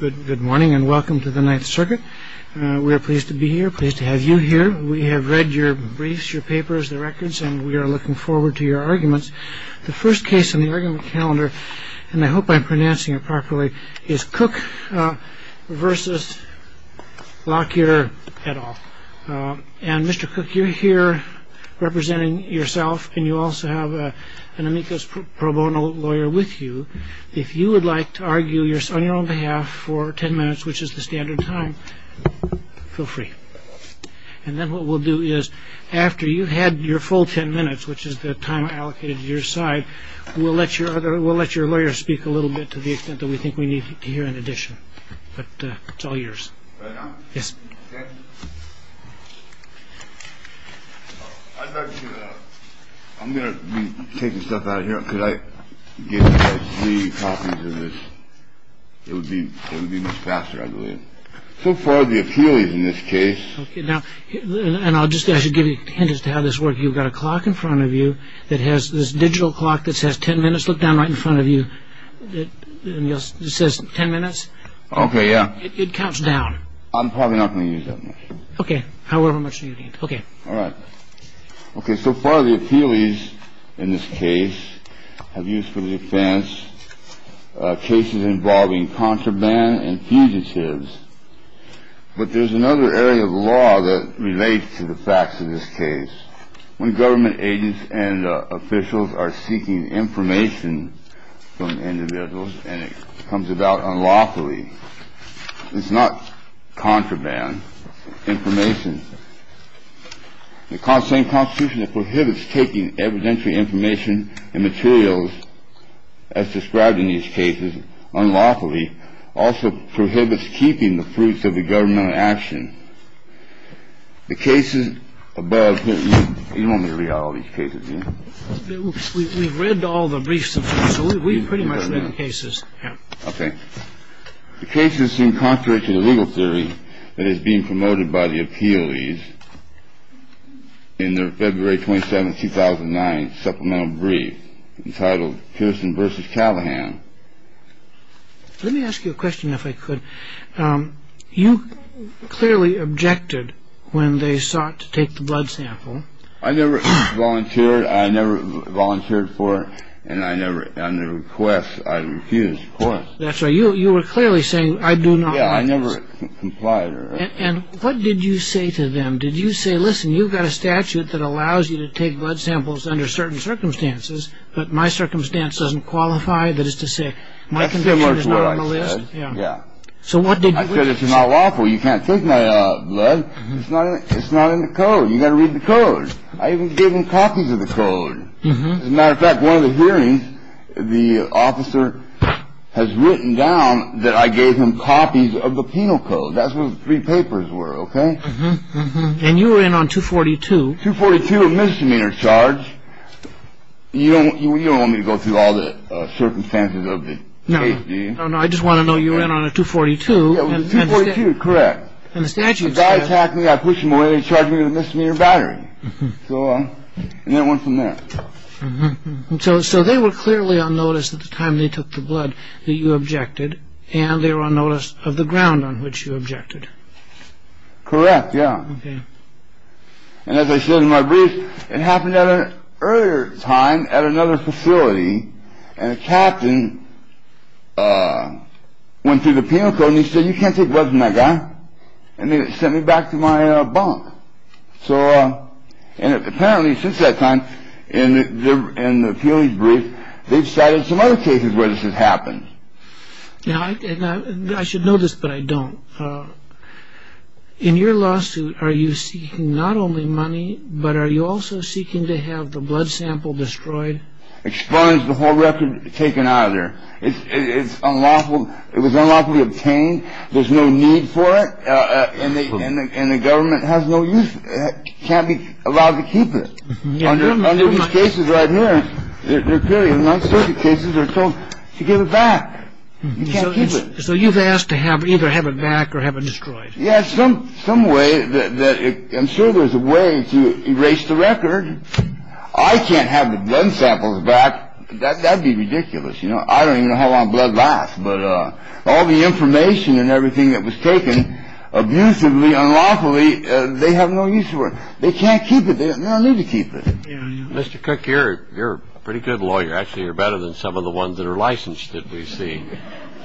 Good morning and welcome to the Ninth Circuit. We are pleased to be here, pleased to have you here. We have read your briefs, your papers, the records, and we are looking forward to your arguments. The first case in the argument calendar, and I hope I'm pronouncing it properly, is Cook versus Lockyer et al. And Mr. Cook, you're here representing yourself and you also have an amicus pro bono lawyer with you. If you would like to argue on your own behalf for 10 minutes, which is the standard time, feel free. And then what we'll do is after you've had your full 10 minutes, which is the time allocated to your side, we'll let your other we'll let your lawyer speak a little bit to the extent that we think we need to hear in addition. But it's all yours. Yes. OK. I'm going to be taking stuff out here. Could I get three copies of this? It would be it would be much faster. I believe so far the appeal is in this case. And I'll just say I should give you a hint as to how this work. You've got a clock in front of you that has this digital clock that says 10 minutes. Look down right in front of you. It says 10 minutes. OK. Yeah. It comes down. I'm probably not going to use it. OK. However much you need. OK. All right. OK. So far the appeal is in this case have used for the offense cases involving contraband and fugitives. But there's another area of law that relates to the facts of this case. When government agents and officials are seeking information from individuals and it comes about unlawfully, it's not contraband information. The constant constitution prohibits taking evidentiary information and materials as described in these cases. Unlawfully also prohibits keeping the fruits of the government action. The cases above. You want me to read all these cases. We've read all the briefs. So we've pretty much read the cases. OK. The cases seem contrary to the legal theory that is being promoted by the appeal. In their February 27 2009 supplemental brief entitled Pearson versus Callahan. Let me ask you a question, if I could. You clearly objected when they sought to take the blood sample. I never volunteered. I never volunteered for. And I never on the request. I refused. That's why you were clearly saying I do not. I never complied. And what did you say to them? Did you say, listen, you've got a statute that allows you to take blood samples under certain circumstances. But my circumstance doesn't qualify. That is to say, my condition is not on the list. Yeah. So what did I say? This is not lawful. You can't take my blood. It's not it's not in the code. You got to read the code. I even gave him copies of the code. As a matter of fact, one of the hearings, the officer has written down that I gave him copies of the penal code. That's what three papers were. OK. And you were in on 242, 242 misdemeanor charge. You know, you don't want me to go through all the circumstances of the. No, no, no. I just want to know you in on a 242. Correct. And the statute that's happening, I push them away and charge me with a misdemeanor battery. So I went from there. So so they were clearly on notice at the time they took the blood that you objected. And they were on notice of the ground on which you objected. Correct. Yeah. And as I said in my brief, it happened at an earlier time at another facility. And the captain went through the penal code and he said, you can't take blood from that guy. I mean, it sent me back to my bunk. So apparently since that time in the in the brief, they've cited some other cases where this has happened. And I should know this, but I don't. In your lawsuit, are you seeking not only money, but are you also seeking to have the blood sample destroyed? Expunged the whole record taken out of there. It's unlawful. It was unlawfully obtained. There's no need for it. And the government has no use. Can't be allowed to keep it. This is right here. They're clearly not circuit cases. They're told to give it back. So you've asked to have either have it back or have it destroyed. Yes. Some some way that I'm sure there's a way to erase the record. I can't have the blood samples back. That'd be ridiculous. You know, I don't even know how long blood lasts. But all the information and everything that was taken abusively, unlawfully, they have no use for. They can't keep it. They don't need to keep it. Mr. Cook, you're a pretty good lawyer. Actually, you're better than some of the ones that are licensed that we see.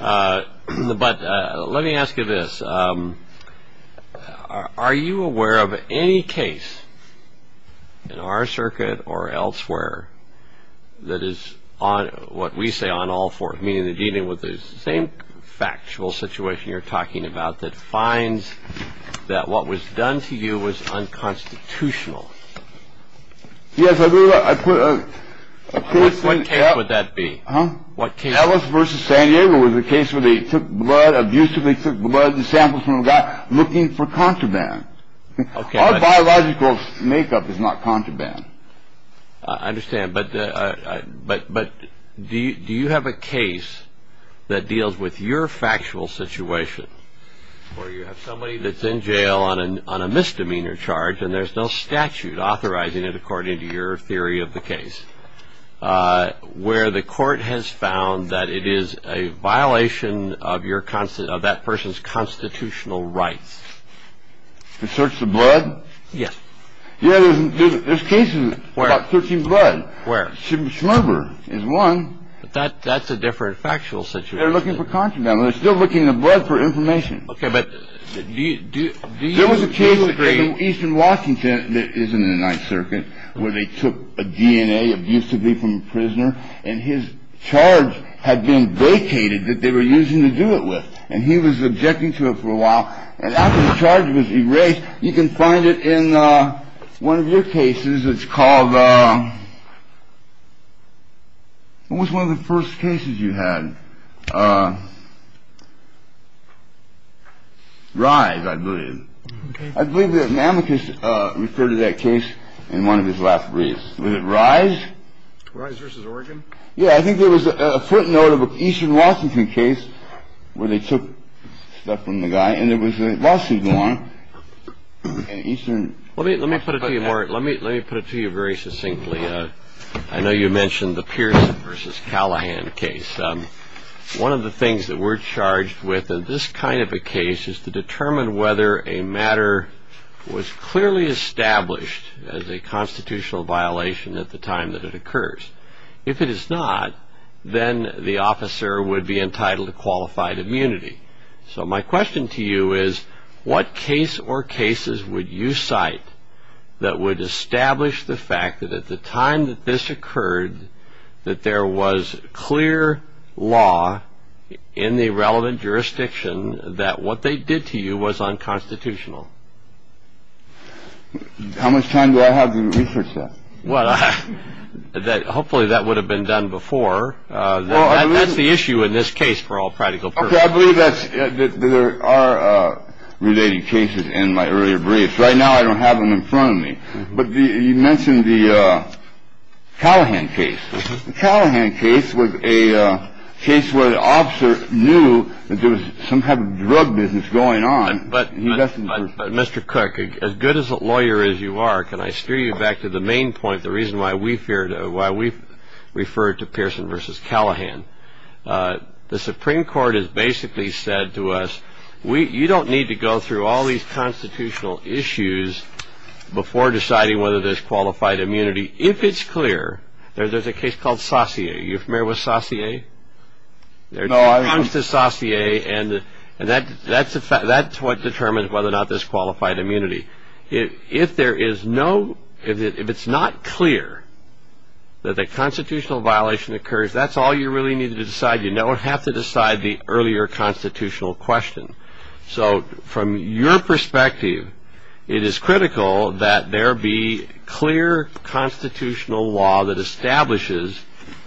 But let me ask you this. Are you aware of any case in our circuit or elsewhere that is on what we say on all fours, meaning that even with the same factual situation you're talking about, that finds that what was done to you was unconstitutional? Yes, I put a. What would that be? Huh? What? That was versus San Diego was the case where they took blood, abusively took blood samples from a guy looking for contraband. OK, biological makeup is not contraband. I understand. But but but do you have a case that deals with your factual situation where you have somebody that's in jail on an on a misdemeanor charge and there's no statute authorizing it according to your theory of the case where the court has found that it is a violation of your constant of that person's constitutional rights? To search the blood? Yes. You know, there's cases where searching blood where Schmerber is one that that's a different factual situation. They're looking for contraband. They're still looking in the blood for information. OK, but do you do? There was a case in eastern Washington that is in the Ninth Circuit where they took a DNA abusively from a prisoner and his charge had been vacated that they were using to do it with. And he was objecting to it for a while. And after the charge was erased, you can find it in one of your cases. It's called. What was one of the first cases you had? Rise, I believe. I believe that mammoth referred to that case in one of his last briefs. Was it rise? Rise versus Oregon. Yeah. I think there was a footnote of an eastern Washington case where they took stuff from the guy. And there was a lawsuit on Eastern. Let me let me put it to you more. Let me let me put it to you very succinctly. I know you mentioned the Pierce versus Callahan case. One of the things that we're charged with in this kind of a case is to determine whether a matter was clearly established as a constitutional violation at the time that it occurs. If it is not, then the officer would be entitled to qualified immunity. So my question to you is, what case or cases would you cite that would establish the fact that at the time that this occurred, that there was clear law in the relevant jurisdiction that what they did to you was unconstitutional? How much time do I have? Well, hopefully that would have been done before. That's the issue in this case for all practical purposes. I believe that there are related cases in my earlier briefs. Right now, I don't have them in front of me. But you mentioned the Callahan case. Callahan case was a case where the officer knew that there was some kind of drug business going on. But Mr. Cook, as good as a lawyer as you are, can I steer you back to the main point? The reason why we refer to Pearson v. Callahan, the Supreme Court has basically said to us, you don't need to go through all these constitutional issues before deciding whether there's qualified immunity. If it's clear, there's a case called Saussure. You familiar with Saussure? No, I don't. It comes to Saussure, and that's what determines whether or not there's qualified immunity. If it's not clear that a constitutional violation occurs, that's all you really need to decide. You don't have to decide the earlier constitutional question. So from your perspective, it is critical that there be clear constitutional law that establishes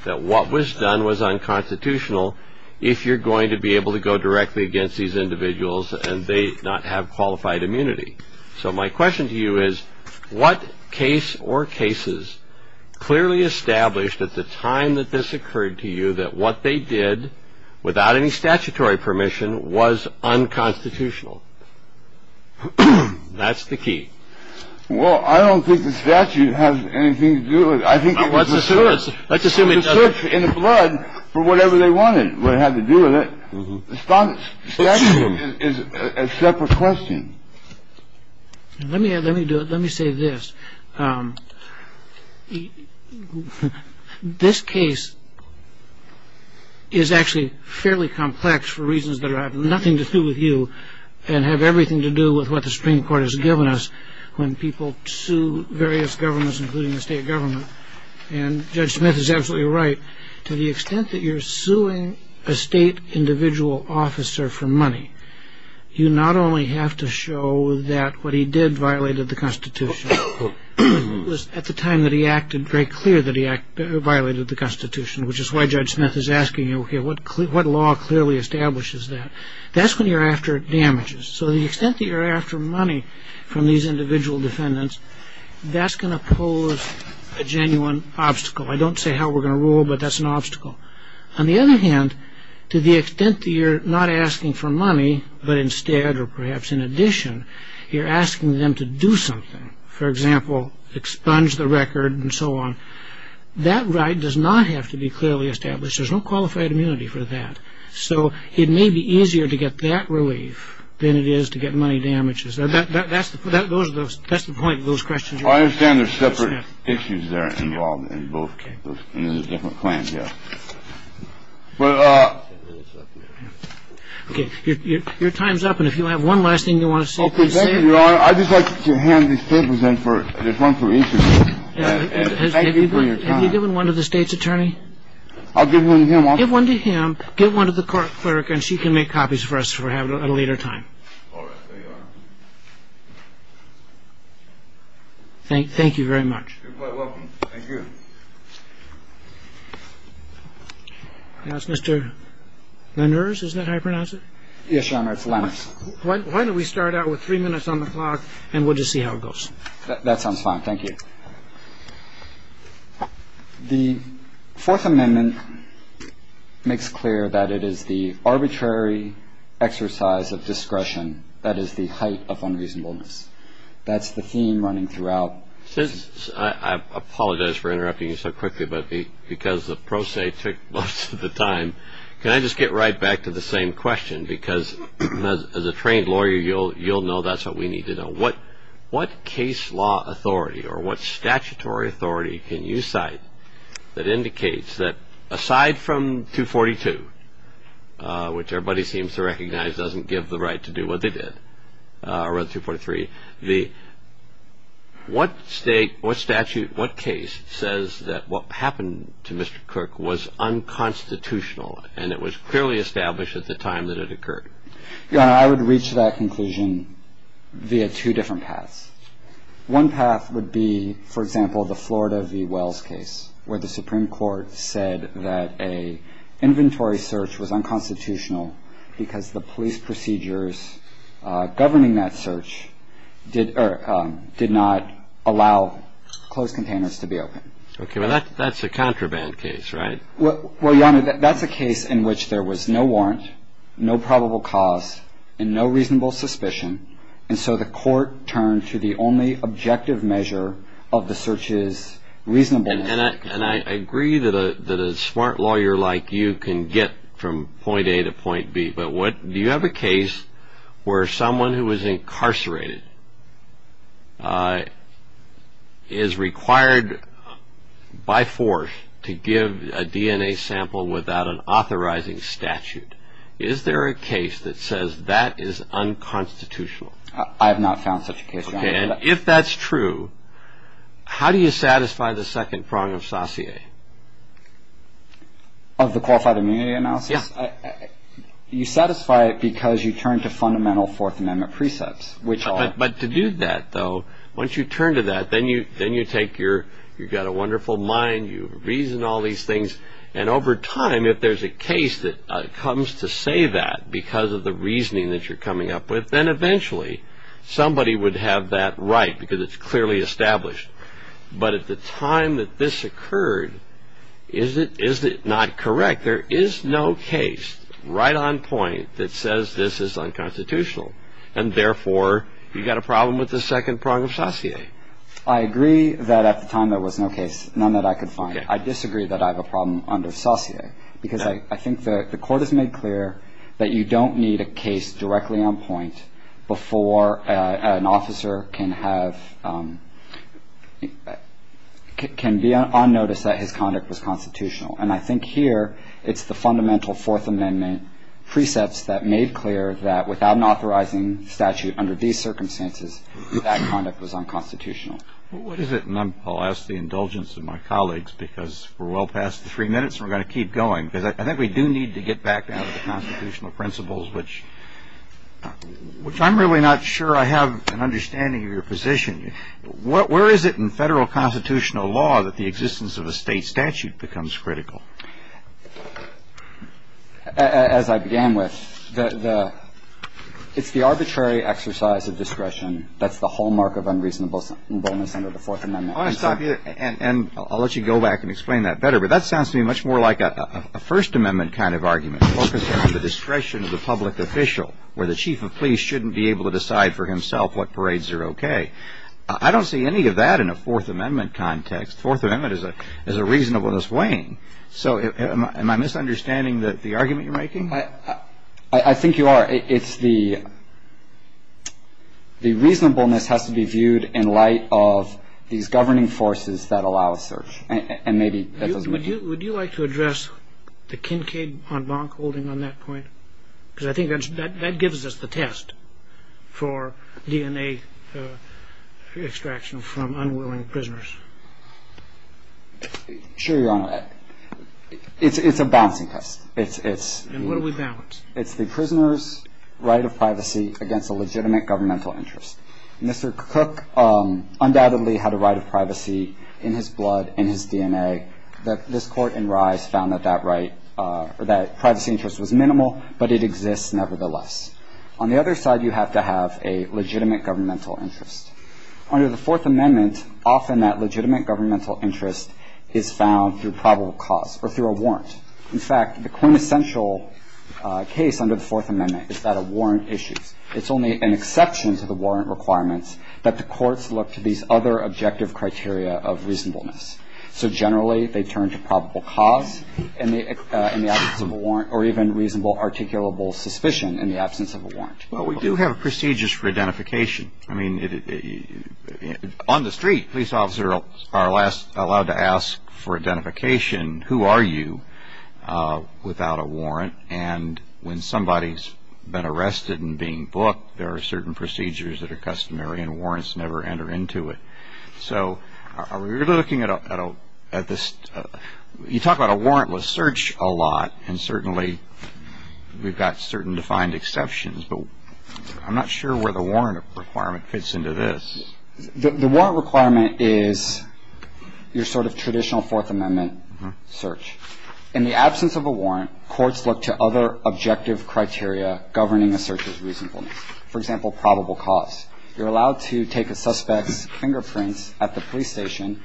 that what was done was unconstitutional if you're going to be able to go directly against these individuals and they not have qualified immunity. So my question to you is, what case or cases clearly established at the time that this occurred to you that what they did without any statutory permission was unconstitutional? That's the key. Well, I don't think the statute has anything to do with it. Let's assume it does. But for whatever they wanted, what it had to do with it, the statute is a separate question. Let me say this. This case is actually fairly complex for reasons that have nothing to do with you and have everything to do with what the Supreme Court has given us when people sue various governments, including the state government. And Judge Smith is absolutely right. To the extent that you're suing a state individual officer for money, you not only have to show that what he did violated the Constitution, but it was at the time that he acted very clear that he violated the Constitution, which is why Judge Smith is asking you, okay, what law clearly establishes that? That's when you're after damages. So the extent that you're after money from these individual defendants, that's going to pose a genuine obstacle. I don't say how we're going to rule, but that's an obstacle. On the other hand, to the extent that you're not asking for money, but instead or perhaps in addition you're asking them to do something, for example, expunge the record and so on, that right does not have to be clearly established. There's no qualified immunity for that. So it may be easier to get that relief than it is to get money damages. That's the point of those questions. Well, I understand there's separate issues that are involved in both cases, and there's different plans, yes. Okay, your time's up. And if you have one last thing you want to say, please say it. Okay, thank you, Your Honor. I'd just like to hand these papers in. There's one for each of you. Thank you for your time. Have you given one to the state's attorney? I'll give one to him. Give one to him. Give one to the court clerk, and she can make copies for us at a later time. All right, there you are. Thank you very much. You're quite welcome. Thank you. That's Mr. Lenders. Isn't that how you pronounce it? Yes, Your Honor, it's Lenders. Why don't we start out with three minutes on the clock, and we'll just see how it goes. That sounds fine. Thank you. The Fourth Amendment makes clear that it is the arbitrary exercise of discretion that is the height of unreasonableness. That's the theme running throughout. I apologize for interrupting you so quickly, but because the pro se took most of the time, can I just get right back to the same question? Because as a trained lawyer, you'll know that's what we need to know. What case law authority or what statutory authority can you cite that indicates that aside from 242, which everybody seems to recognize doesn't give the right to do what they did, or rather 243, what state, what statute, what case says that what happened to Mr. Cook was unconstitutional and it was clearly established at the time that it occurred? Your Honor, I would reach that conclusion via two different paths. One path would be, for example, the Florida v. Wells case, where the Supreme Court said that an inventory search was unconstitutional because the police procedures governing that search did not allow closed containers to be open. Okay, but that's a contraband case, right? Well, Your Honor, that's a case in which there was no warrant, no probable cause, and no reasonable suspicion, and so the court turned to the only objective measure of the search's reasonableness. And I agree that a smart lawyer like you can get from point A to point B, but do you have a case where someone who was incarcerated is required by force to give a DNA sample without an authorizing statute? Is there a case that says that is unconstitutional? I have not found such a case, Your Honor. Okay, and if that's true, how do you satisfy the second prong of sauté? Of the qualified immunity analysis? Yes. You satisfy it because you turn to fundamental Fourth Amendment precepts, which are... But to do that, though, once you turn to that, then you take your, you've got a wonderful mind, you reason all these things, and over time, if there's a case that comes to say that because of the reasoning that you're coming up with, then eventually somebody would have that right because it's clearly established. But at the time that this occurred, is it not correct? There is no case right on point that says this is unconstitutional, and therefore you've got a problem with the second prong of sauté. I agree that at the time there was no case, none that I could find. Okay. I disagree that I have a problem under sauté, because I think the Court has made clear that you don't need a case directly on point before an officer can have, can be on notice that his conduct was constitutional. And I think here it's the fundamental Fourth Amendment precepts that made clear that without an authorizing statute under these circumstances, that conduct was unconstitutional. What is it, and I'll ask the indulgence of my colleagues, because we're well past the three minutes and we're going to keep going, because I think we do need to get back down to the constitutional principles, which I'm really not sure I have an understanding of your position. Where is it in federal constitutional law that the existence of a state statute becomes critical? As I began with, it's the arbitrary exercise of discretion that's the hallmark of unreasonableness under the Fourth Amendment. I want to stop you, and I'll let you go back and explain that better, but that sounds to me much more like a First Amendment kind of argument, focused on the discretion of the public official, where the chief of police shouldn't be able to decide for himself what parades are okay. I don't see any of that in a Fourth Amendment context. Fourth Amendment is a reasonableness weighing. So am I misunderstanding the argument you're making? I think you are. It's the reasonableness has to be viewed in light of these governing forces that allow us search. Would you like to address the Kincaid-von Bonk holding on that point? Because I think that gives us the test for DNA extraction from unwilling prisoners. Sure, Your Honor. It's a balancing test. And what do we balance? It's the prisoner's right of privacy against a legitimate governmental interest. Mr. Cook undoubtedly had a right of privacy in his blood, in his DNA. This Court in Reyes found that that privacy interest was minimal, but it exists nevertheless. On the other side, you have to have a legitimate governmental interest. Under the Fourth Amendment, often that legitimate governmental interest is found through probable cause, or through a warrant. In fact, the quintessential case under the Fourth Amendment is that of warrant issues. It's only an exception to the warrant requirements that the courts look to these other objective criteria of reasonableness. So generally, they turn to probable cause in the absence of a warrant, or even reasonable articulable suspicion in the absence of a warrant. But we do have procedures for identification. I mean, on the street, police officers are allowed to ask for identification, who are you, without a warrant. And when somebody's been arrested and being booked, there are certain procedures that are customary, and warrants never enter into it. So are we really looking at this? You talk about a warrantless search a lot, and certainly we've got certain defined exceptions, but I'm not sure where the warrant requirement fits into this. The warrant requirement is your sort of traditional Fourth Amendment search. In the absence of a warrant, courts look to other objective criteria governing a search of reasonableness. For example, probable cause. You're allowed to take a suspect's fingerprints at the police station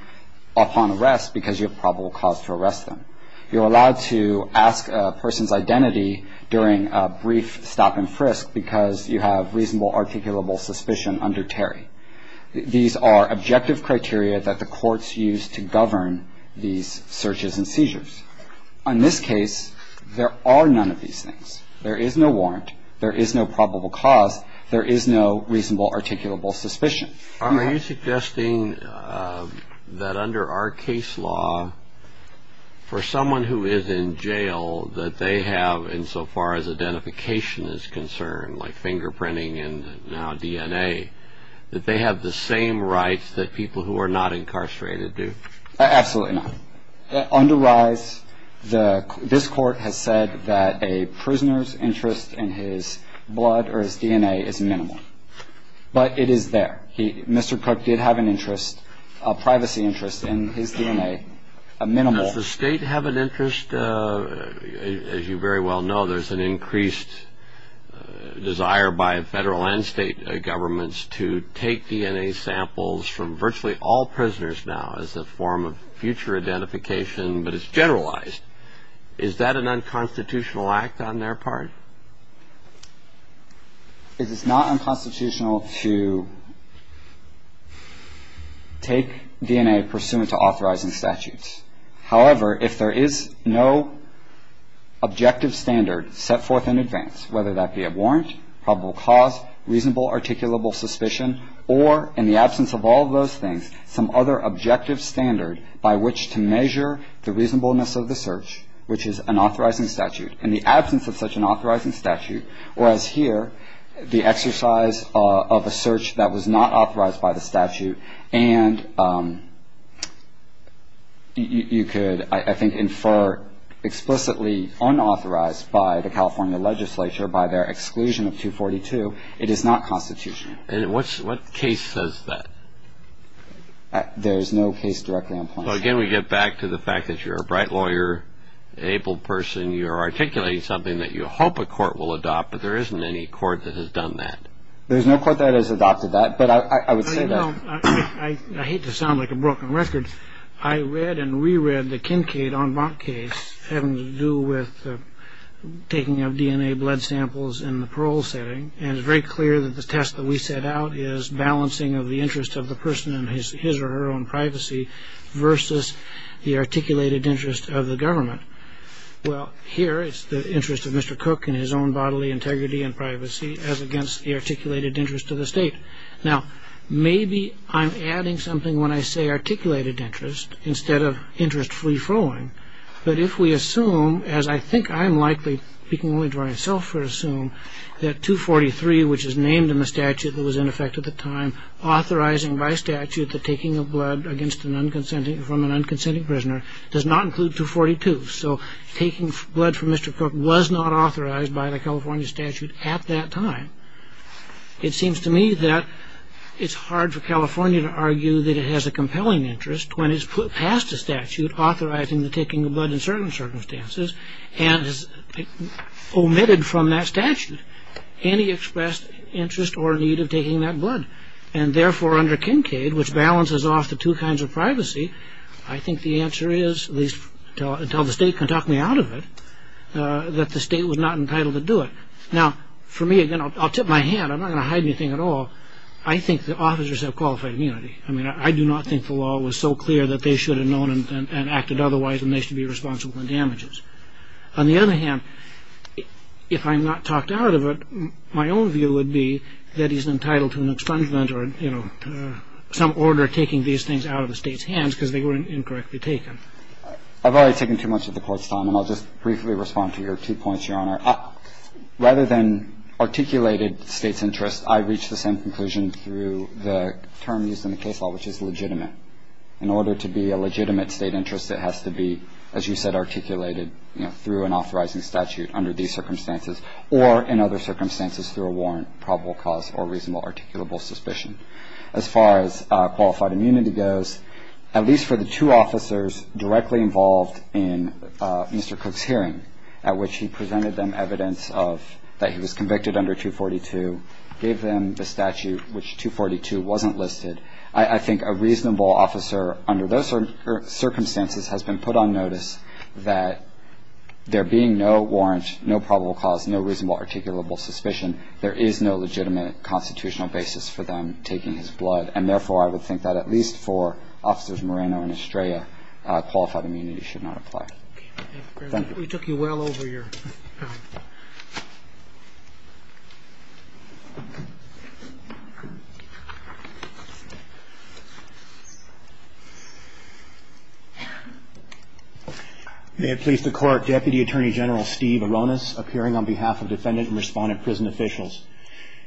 upon arrest because you have probable cause to arrest them. You're allowed to ask a person's identity during a brief stop and frisk because you have reasonable articulable suspicion under Terry. These are objective criteria that the courts use to govern these searches and seizures. On this case, there are none of these things. There is no warrant. There is no probable cause. There is no reasonable articulable suspicion. Are you suggesting that under our case law, for someone who is in jail, that they have, insofar as identification is concerned, like fingerprinting and now DNA, that they have the same rights that people who are not incarcerated do? Absolutely not. Under RISE, this court has said that a prisoner's interest in his blood or his DNA is minimal, but it is there. Mr. Cook did have an interest, a privacy interest, in his DNA, a minimal. Does the state have an interest? As you very well know, there's an increased desire by federal and state governments to take DNA samples from virtually all prisoners now as a form of future identification, but it's generalized. Is that an unconstitutional act on their part? It is not unconstitutional to take DNA pursuant to authorizing statutes. However, if there is no objective standard set forth in advance, whether that be a warrant, probable cause, reasonable articulable suspicion, or in the absence of all of those things, some other objective standard by which to measure the reasonableness of the search, which is an authorizing statute. In the absence of such an authorizing statute, whereas here, the exercise of a search that was not authorized by the statute, and you could, I think, infer explicitly unauthorized by the California legislature, by their exclusion of 242, it is not constitutional. And what case says that? There is no case directly on point. Well, again, we get back to the fact that you're a bright lawyer, an able person. You're articulating something that you hope a court will adopt, but there isn't any court that has done that. There's no court that has adopted that, but I would say that. I hate to sound like a broken record. I read and reread the Kincaid-Enbach case having to do with taking of DNA blood samples in the parole setting, and it's very clear that the test that we set out is balancing of the interest of the person in his or her own privacy versus the articulated interest of the government. Well, here, it's the interest of Mr. Cook in his own bodily integrity and privacy as against the articulated interest of the state. Now, maybe I'm adding something when I say articulated interest instead of interest-free throwing, but if we assume, as I think I'm likely speaking only to myself, we assume that 243, which is named in the statute that was in effect at the time, authorizing by statute the taking of blood from an unconsenting prisoner, does not include 242. So taking blood from Mr. Cook was not authorized by the California statute at that time. It seems to me that it's hard for California to argue that it has a compelling interest when it's passed a statute authorizing the taking of blood in certain circumstances and has omitted from that statute any expressed interest or need of taking that blood. And therefore, under Kincade, which balances off the two kinds of privacy, I think the answer is, at least until the state can talk me out of it, that the state was not entitled to do it. Now, for me, again, I'll tip my hand. I'm not going to hide anything at all. I think the officers have qualified immunity. I mean, I do not think the law was so clear that they should have known and acted otherwise and they should be responsible for the damages. On the other hand, if I'm not talked out of it, my own view would be that he's entitled to an expungement or, you know, some order taking these things out of the state's hands because they were incorrectly taken. I've already taken too much of the Court's time, and I'll just briefly respond to your two points, Your Honor. Rather than articulated state's interest, I've reached the same conclusion through the term used in the case law, which is legitimate. In order to be a legitimate state interest, it has to be, as you said, articulated, you know, through an authorizing statute under these circumstances or in other circumstances through a warrant, probable cause, or reasonable articulable suspicion. As far as qualified immunity goes, at least for the two officers directly involved in Mr. Cook's hearing, at which he presented them evidence of that he was convicted under 242, gave them the statute, which 242 wasn't listed, I think a reasonable officer under those circumstances has been put on notice that there being no warrant, no probable cause, no reasonable articulable suspicion, there is no legitimate constitutional basis for them taking his blood. And therefore, I would think that at least for officers Moreno and Estrella, qualified immunity should not apply. Thank you. We took you well over your time. May it please the Court, Deputy Attorney General Steve Aronis, appearing on behalf of defendant and respondent prison officials.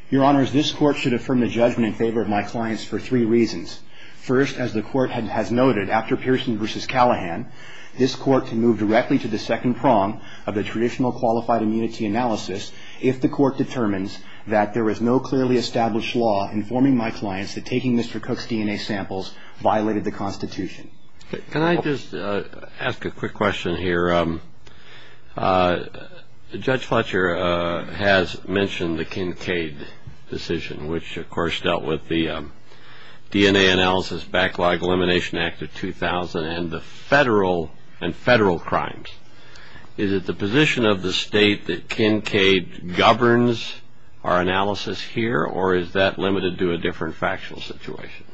Your Honors, this Court should affirm the judgment in favor of my clients for three reasons. First, as the Court has noted, after Pearson v. Callahan, this Court can move directly to the second prong of the traditional qualified immunity analysis if the Court determines that there is no clearly established law informing my clients that taking Mr. Cook's DNA samples violated the Constitution. Can I just ask a quick question here? Judge Fletcher has mentioned the Kincaid decision, which of course dealt with the DNA Analysis Backlog Elimination Act of 2000 and the federal and federal crimes. Is it the position of the State that Kincaid governs our analysis here or is that limited to a different factional situation?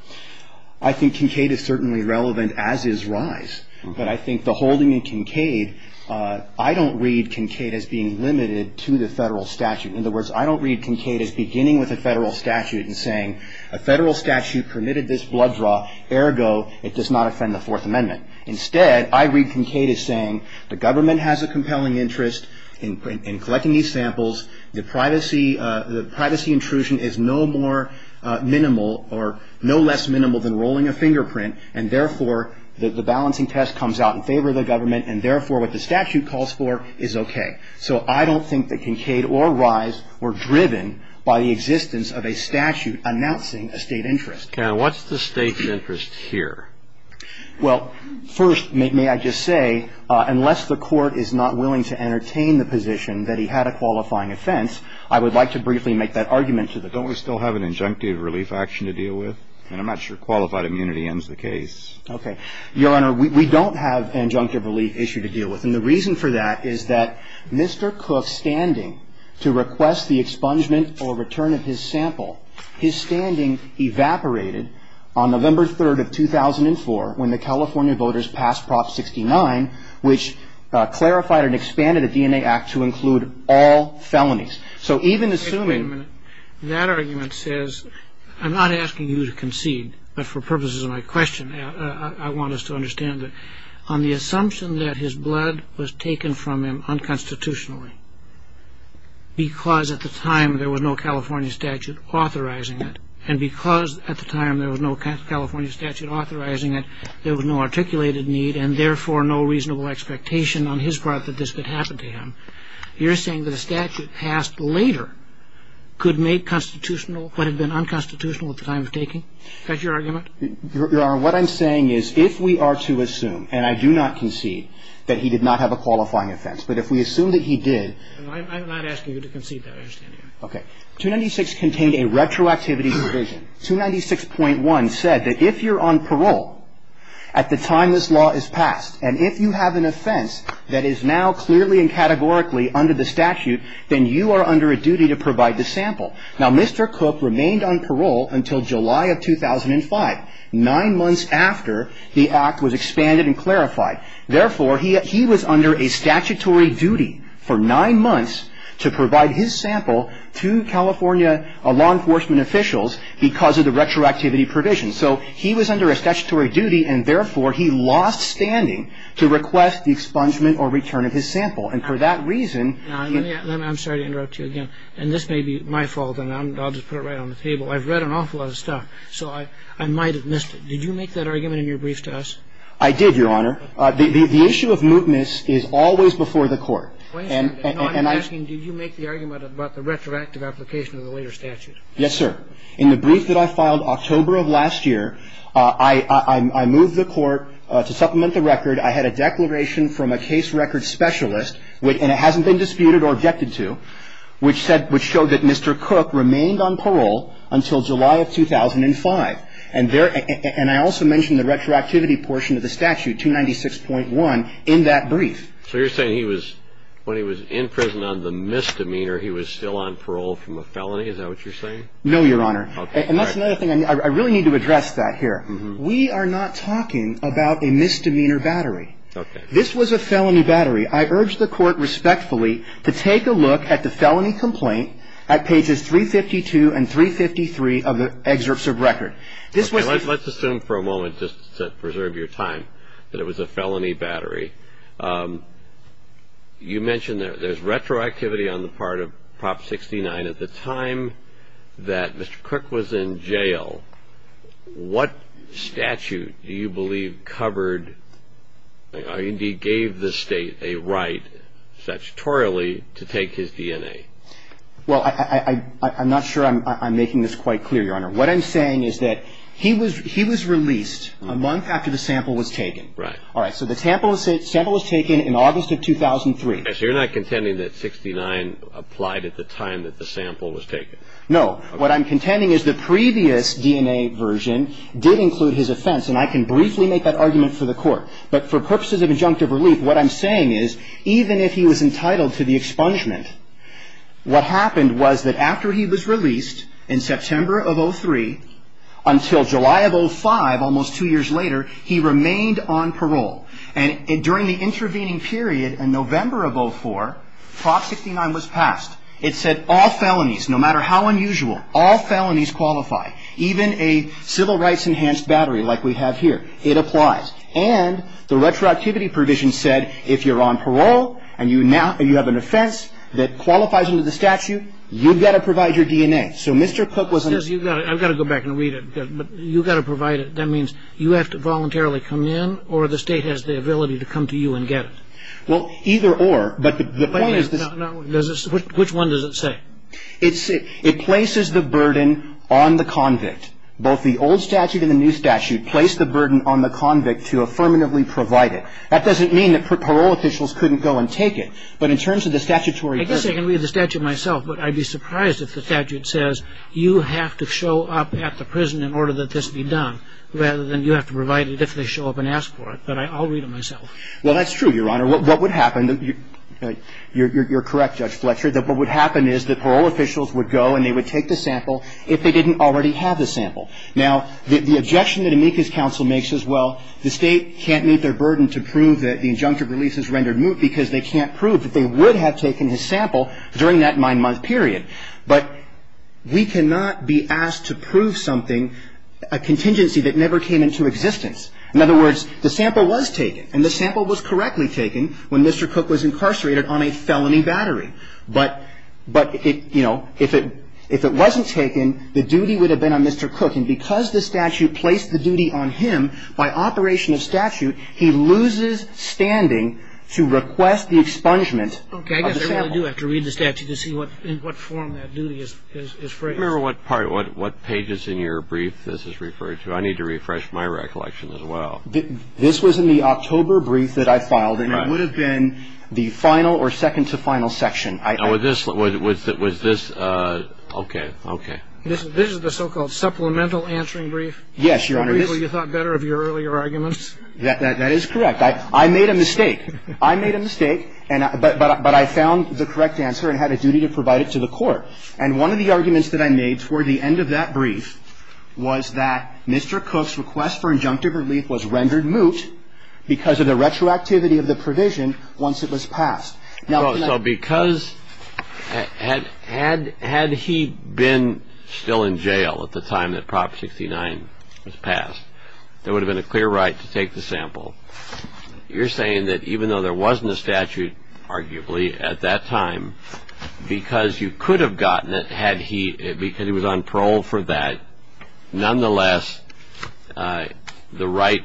I think Kincaid is certainly relevant as is RISE. But I think the holding in Kincaid, I don't read Kincaid as being limited to the federal statute. In other words, I don't read Kincaid as beginning with a federal statute and saying, a federal statute permitted this blood draw, ergo it does not offend the Fourth Amendment. Instead, I read Kincaid as saying the government has a compelling interest in collecting these samples. The privacy intrusion is no more minimal or no less minimal than rolling a fingerprint and therefore the balancing test comes out in favor of the government and therefore what the statute calls for is okay. So I don't think that Kincaid or RISE were driven by the existence of a statute announcing a State interest. Okay. And what's the State interest here? Well, first, may I just say, unless the Court is not willing to entertain the position that he had a qualifying offense, I would like to briefly make that argument to the Court. Don't we still have an injunctive relief action to deal with? And I'm not sure qualified immunity ends the case. Okay. Your Honor, we don't have an injunctive relief issue to deal with. And the reason for that is that Mr. Cook's standing to request the expungement or return of his sample, his standing evaporated on November 3rd of 2004 when the California voters passed Prop 69, which clarified and expanded the DNA Act to include all felonies. So even assuming that argument says, I'm not asking you to concede, but for purposes of my question, I want us to understand that on the assumption that his blood was taken from him unconstitutionally because at the time there was no California statute authorizing it and because at the time there was no California statute authorizing it, there was no articulated need and therefore no reasonable expectation on his part that this could happen to him, you're saying that a statute passed later could make constitutional what had been unconstitutional at the time of taking? Is that your argument? Your Honor, what I'm saying is if we are to assume, and I do not concede that he did not have a qualifying offense, but if we assume that he did. I'm not asking you to concede that. Okay. 296 contained a retroactivity provision. 296.1 said that if you're on parole at the time this law is passed and if you have an offense that is now clearly and categorically under the statute, then you are under a duty to provide the sample. Now, Mr. Cook remained on parole until July of 2005, nine months after the act was expanded and clarified. Therefore, he was under a statutory duty for nine months to provide his sample to California law enforcement officials because of the retroactivity provision. So he was under a statutory duty and therefore he lost standing to request the expungement or return of his sample. And for that reason I'm sorry to interrupt you again. And this may be my fault and I'll just put it right on the table. I've read an awful lot of stuff, so I might have missed it. Did you make that argument in your brief to us? I did, Your Honor. The issue of mootness is always before the court. I'm asking, did you make the argument about the retroactive application of the later statute? Yes, sir. And in fact, I had a declaration from a case record specialist, and it hasn't been disputed or objected to, which showed that Mr. Cook remained on parole until July of 2005. And I also mentioned the retroactivity portion of the statute, 296.1, in that brief. So you're saying when he was in prison on the misdemeanor, he was still on parole from a felony? Is that what you're saying? No, Your Honor. And that's another thing. I really need to address that here. We are not talking about a misdemeanor battery. Okay. This was a felony battery. I urge the Court respectfully to take a look at the felony complaint at pages 352 and 353 of the excerpts of record. Okay. Let's assume for a moment, just to preserve your time, that it was a felony battery. You mentioned there's retroactivity on the part of Prop 69. At the time that Mr. Cook was in jail, what statute do you believe covered or indeed gave the State a right statutorily to take his DNA? Well, I'm not sure I'm making this quite clear, Your Honor. What I'm saying is that he was released a month after the sample was taken. Right. All right. So the sample was taken in August of 2003. So you're not contending that 69 applied at the time that the sample was taken? No. What I'm contending is the previous DNA version did include his offense, and I can briefly make that argument for the Court. But for purposes of injunctive relief, what I'm saying is even if he was entitled to the expungement, what happened was that after he was released in September of 2003 until July of 2005, almost two years later, he remained on parole. And during the intervening period in November of 2004, Prop 69 was passed. It said all felonies, no matter how unusual, all felonies qualify, even a civil rights-enhanced battery like we have here. It applies. And the retroactivity provision said if you're on parole and you have an offense that qualifies under the statute, you've got to provide your DNA. So Mr. Cook was in his ---- I've got to go back and read it, but you've got to provide it. That means you have to voluntarily come in, or the State has the ability to come to you and get it. Well, either or. But the point is this ---- Which one does it say? It places the burden on the convict. Both the old statute and the new statute place the burden on the convict to affirmatively provide it. That doesn't mean that parole officials couldn't go and take it. But in terms of the statutory ---- I guess I can read the statute myself, but I'd be surprised if the statute says you have to show up at the prison in order that this be done, rather than you have to provide it if they show up and ask for it. But I'll read it myself. Well, that's true, Your Honor. What would happen ---- you're correct, Judge Fletcher, that what would happen is that parole officials would go and they would take the sample if they didn't already have the sample. Now, the objection that Amica's counsel makes is, well, the State can't meet their burden to prove that the injunctive release has rendered moot because they can't prove that they would have taken his sample during that nine-month period. But we cannot be asked to prove something, a contingency that never came into existence. In other words, the sample was taken. And the sample was correctly taken when Mr. Cook was incarcerated on a felony battery. But, you know, if it wasn't taken, the duty would have been on Mr. Cook. And because the statute placed the duty on him, by operation of statute, he loses standing to request the expungement of the sample. Okay. I guess I really do have to read the statute to see what form that duty is phrased. Remember what part, what pages in your brief this is referred to. I need to refresh my recollection as well. This was in the October brief that I filed. And it would have been the final or second-to-final section. Was this ---- okay. Okay. This is the so-called supplemental answering brief? Yes, Your Honor. Well, you thought better of your earlier arguments? That is correct. I made a mistake. I made a mistake. But I found the correct answer and had a duty to provide it to the court. And one of the arguments that I made toward the end of that brief was that Mr. Cook's request for injunctive relief was rendered moot because of the retroactivity of the provision once it was passed. So because ---- had he been still in jail at the time that Prop 69 was passed, there would have been a clear right to take the sample. You're saying that even though there wasn't a statute, arguably, at that time, because you could have gotten it had he ---- because he was on parole for that, nonetheless the right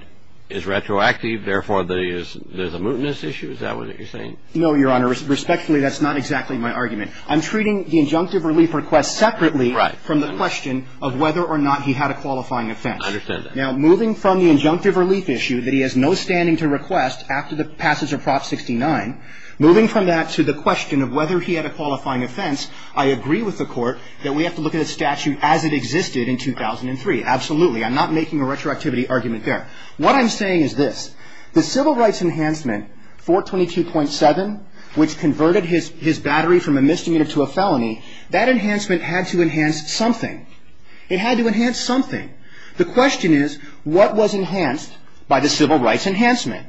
is retroactive, therefore there's a mootness issue? Is that what you're saying? No, Your Honor. Respectfully, that's not exactly my argument. I'm treating the injunctive relief request separately from the question of whether or not he had a qualifying offense. I understand that. Now, moving from the injunctive relief issue that he has no standing to request after the passage of Prop 69, moving from that to the question of whether he had a qualifying offense, I agree with the court that we have to look at a statute as it existed in 2003. Absolutely. I'm not making a retroactivity argument there. What I'm saying is this. The civil rights enhancement, 422.7, which converted his battery from a misdemeanor to a felony, that enhancement had to enhance something. It had to enhance something. The question is, what was enhanced by the civil rights enhancement?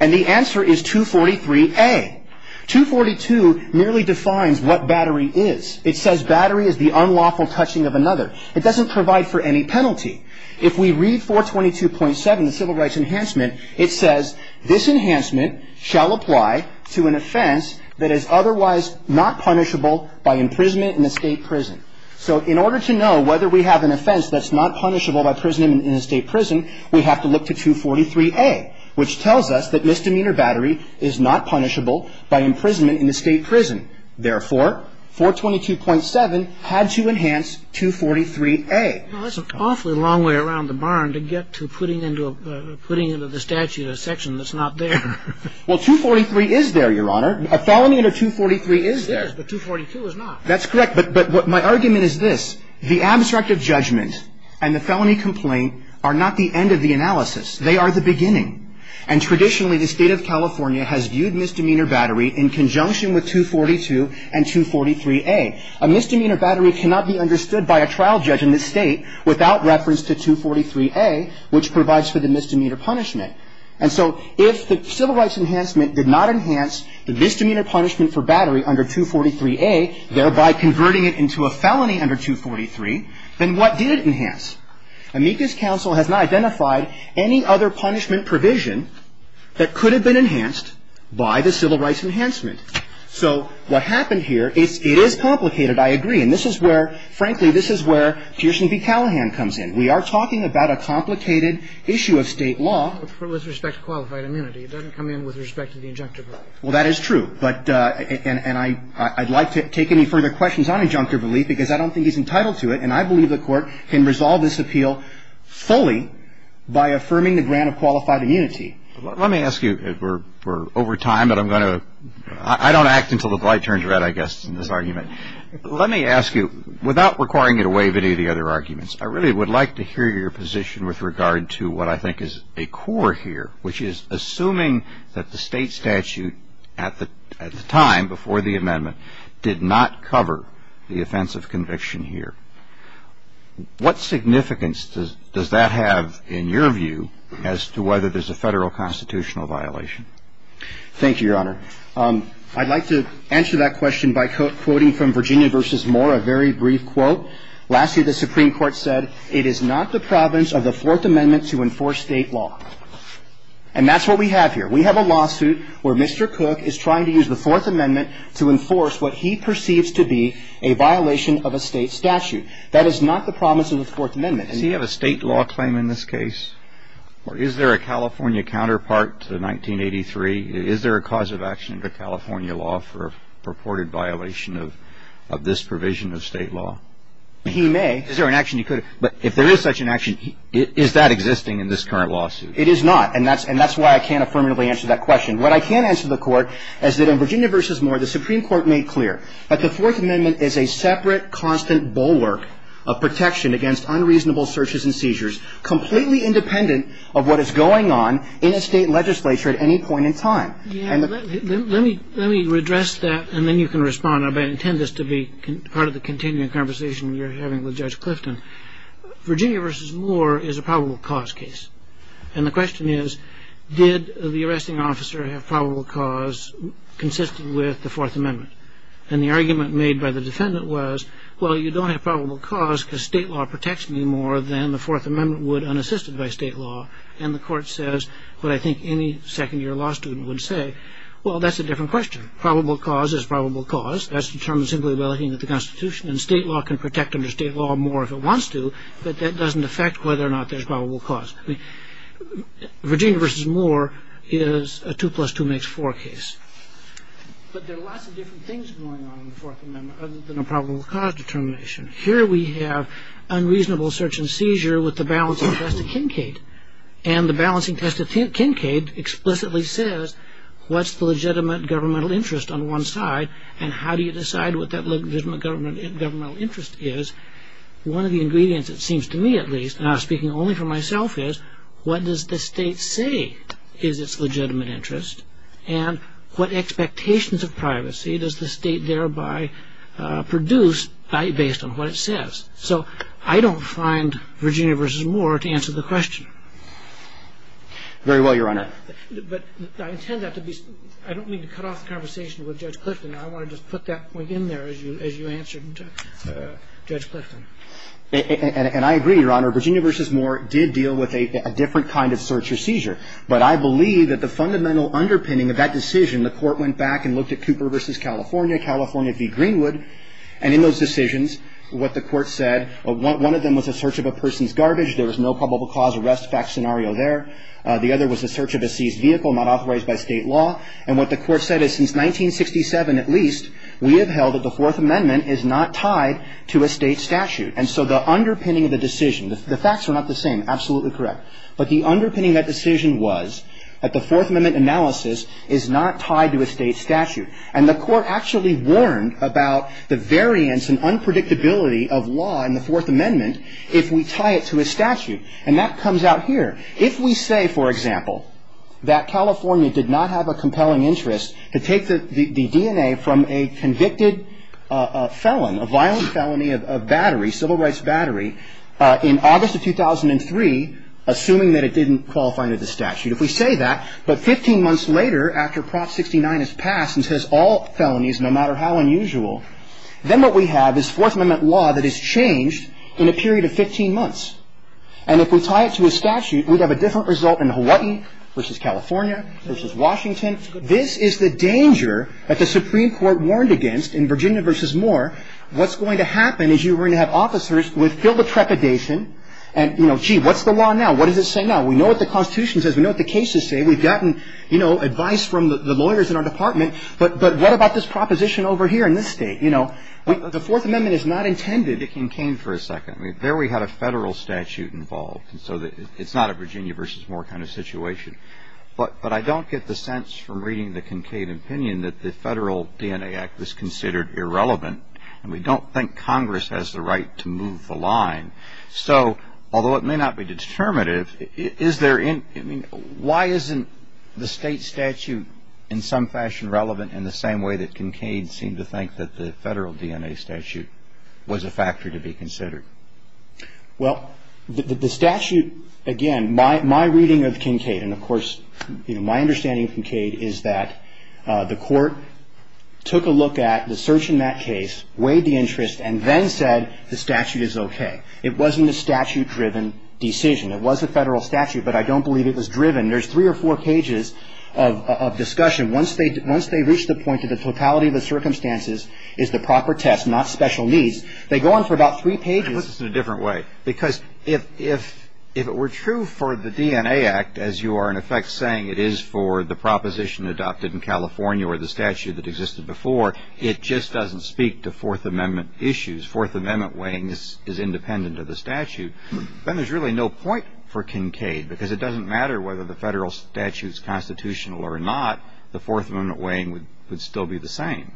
And the answer is 243A. 242 merely defines what battery is. It says battery is the unlawful touching of another. It doesn't provide for any penalty. If we read 422.7, the civil rights enhancement, it says, this enhancement shall apply to an offense that is otherwise not punishable by imprisonment in a state prison. So in order to know whether we have an offense that's not punishable by imprisonment in a state prison, we have to look to 243A, which tells us that misdemeanor battery is not punishable by imprisonment in a state prison. Therefore, 422.7 had to enhance 243A. Well, that's an awfully long way around the barn to get to putting into the statute a section that's not there. Well, 243 is there, Your Honor. A felony under 243 is there. It is, but 242 is not. That's correct. But my argument is this. The abstract of judgment and the felony complaint are not the end of the analysis. They are the beginning. And traditionally, the State of California has viewed misdemeanor battery in conjunction with 242 and 243A. A misdemeanor battery cannot be understood by a trial judge in this State without reference to 243A, which provides for the misdemeanor punishment. And so if the civil rights enhancement did not enhance the misdemeanor punishment for battery under 243A, thereby converting it into a felony under 243, then what did it enhance? Amicus counsel has not identified any other punishment provision that could have been enhanced by the civil rights enhancement. So what happened here, it is complicated, I agree. And this is where, frankly, this is where Pierson v. Callahan comes in. We are talking about a complicated issue of State law. With respect to qualified immunity. It doesn't come in with respect to the injunctive relief. Well, that is true. And I'd like to take any further questions on injunctive relief because I don't think he's entitled to it. And I believe the Court can resolve this appeal fully by affirming the grant of qualified immunity. Let me ask you, we're over time, but I'm going to, I don't act until the light turns red, I guess, in this argument. Let me ask you, without requiring you to waive any of the other arguments, I really would like to hear your position with regard to what I think is a core here, which is assuming that the State statute at the time, before the amendment, did not cover the offense of conviction here. What significance does that have, in your view, as to whether there's a Federal constitutional violation? Thank you, Your Honor. I'd like to answer that question by quoting from Virginia v. Moore, a very brief quote. Last year, the Supreme Court said, it is not the province of the Fourth Amendment to enforce State law. And that's what we have here. We have a lawsuit where Mr. Cook is trying to use the Fourth Amendment to enforce what he perceives to be a violation of a State statute. That is not the province of the Fourth Amendment. Does he have a State law claim in this case? Or is there a California counterpart to 1983? Is there a cause of action under California law for a purported violation of this provision of State law? He may. Is there an action he could have? But if there is such an action, is that existing in this current lawsuit? It is not. And that's why I can't affirmatively answer that question. What I can answer the Court is that in Virginia v. Moore, the Supreme Court made clear that the Fourth Amendment is a separate, constant bulwark of protection against unreasonable searches and seizures, completely independent of what is going on in a State legislature at any point in time. Let me redress that, and then you can respond. I intend this to be part of the continuing conversation you're having with Judge Clifton. Virginia v. Moore is a probable cause case. And the question is, did the arresting officer have probable cause consistent with the Fourth Amendment? And the argument made by the defendant was, well, you don't have probable cause because State law protects me more than the Fourth Amendment would unassisted by State law. And the Court says what I think any second-year law student would say. Well, that's a different question. Probable cause is probable cause. That's determined simply by looking at the Constitution, and State law can protect under State law more if it wants to, but that doesn't affect whether or not there's probable cause. Virginia v. Moore is a two-plus-two-makes-four case. But there are lots of different things going on in the Fourth Amendment other than a probable cause determination. Here we have unreasonable search and seizure with the balancing test of Kincaid, and the balancing test of Kincaid explicitly says what's the legitimate governmental interest on one side and how do you decide what that legitimate governmental interest is. One of the ingredients, it seems to me at least, and I'm speaking only for myself, is what does the State say is its legitimate interest, and what expectations of privacy does the State thereby produce based on what it says? So I don't find Virginia v. Moore to answer the question. Very well, Your Honor. But I intend that to be — I don't mean to cut off the conversation with Judge Clifton. I want to just put that point in there as you answered Judge Clifton. And I agree, Your Honor. Virginia v. Moore did deal with a different kind of search or seizure. But I believe that the fundamental underpinning of that decision, the Court went back and looked at Cooper v. California, California v. Greenwood, and in those decisions what the Court said, one of them was a search of a person's garbage. There was no probable cause arrest fact scenario there. The other was a search of a seized vehicle not authorized by State law. And what the Court said is since 1967 at least, we have held that the Fourth Amendment is not tied to a State statute. And so the underpinning of the decision — the facts are not the same, absolutely correct. But the underpinning of that decision was that the Fourth Amendment analysis is not tied to a State statute. And the Court actually warned about the variance and unpredictability of law in the Fourth Amendment if we tie it to a statute. And that comes out here. If we say, for example, that California did not have a compelling interest to take the DNA from a convicted felon, a violent felony of battery, civil rights battery, in August of 2003, assuming that it didn't qualify under the statute, if we say that, but 15 months later after Prop 69 is passed and says all felonies, no matter how unusual, then what we have is Fourth Amendment law that is changed in a period of 15 months. And if we tie it to a statute, we'd have a different result in Hawaii versus California versus Washington. This is the danger that the Supreme Court warned against in Virginia versus Moore. What's going to happen is you're going to have officers with filled with trepidation and, you know, gee, what's the law now? What does it say now? We know what the Constitution says. We know what the cases say. We've gotten, you know, advice from the lawyers in our department. But what about this proposition over here in this State? You know, the Fourth Amendment is not intended — I mean, there we had a federal statute involved, and so it's not a Virginia versus Moore kind of situation. But I don't get the sense from reading the Kincaid opinion that the Federal DNA Act was considered irrelevant, and we don't think Congress has the right to move the line. So although it may not be determinative, is there — I mean, why isn't the State statute in some fashion relevant in the same way that Kincaid seemed to think that the Federal DNA statute was a factor to be considered? Well, the statute — again, my reading of Kincaid, and of course, you know, my understanding of Kincaid is that the Court took a look at the search in that case, weighed the interest, and then said the statute is okay. It wasn't a statute-driven decision. It was a federal statute, but I don't believe it was driven. There's three or four pages of discussion. Once they reach the point that the totality of the circumstances is the proper test, not special needs, they go on for about three pages. Let me put this in a different way, because if it were true for the DNA Act, as you are in effect saying it is for the proposition adopted in California or the statute that existed before, it just doesn't speak to Fourth Amendment issues. Fourth Amendment weighing is independent of the statute. Then there's really no point for Kincaid, because it doesn't matter whether the federal statute is constitutional or not. The Fourth Amendment weighing would still be the same.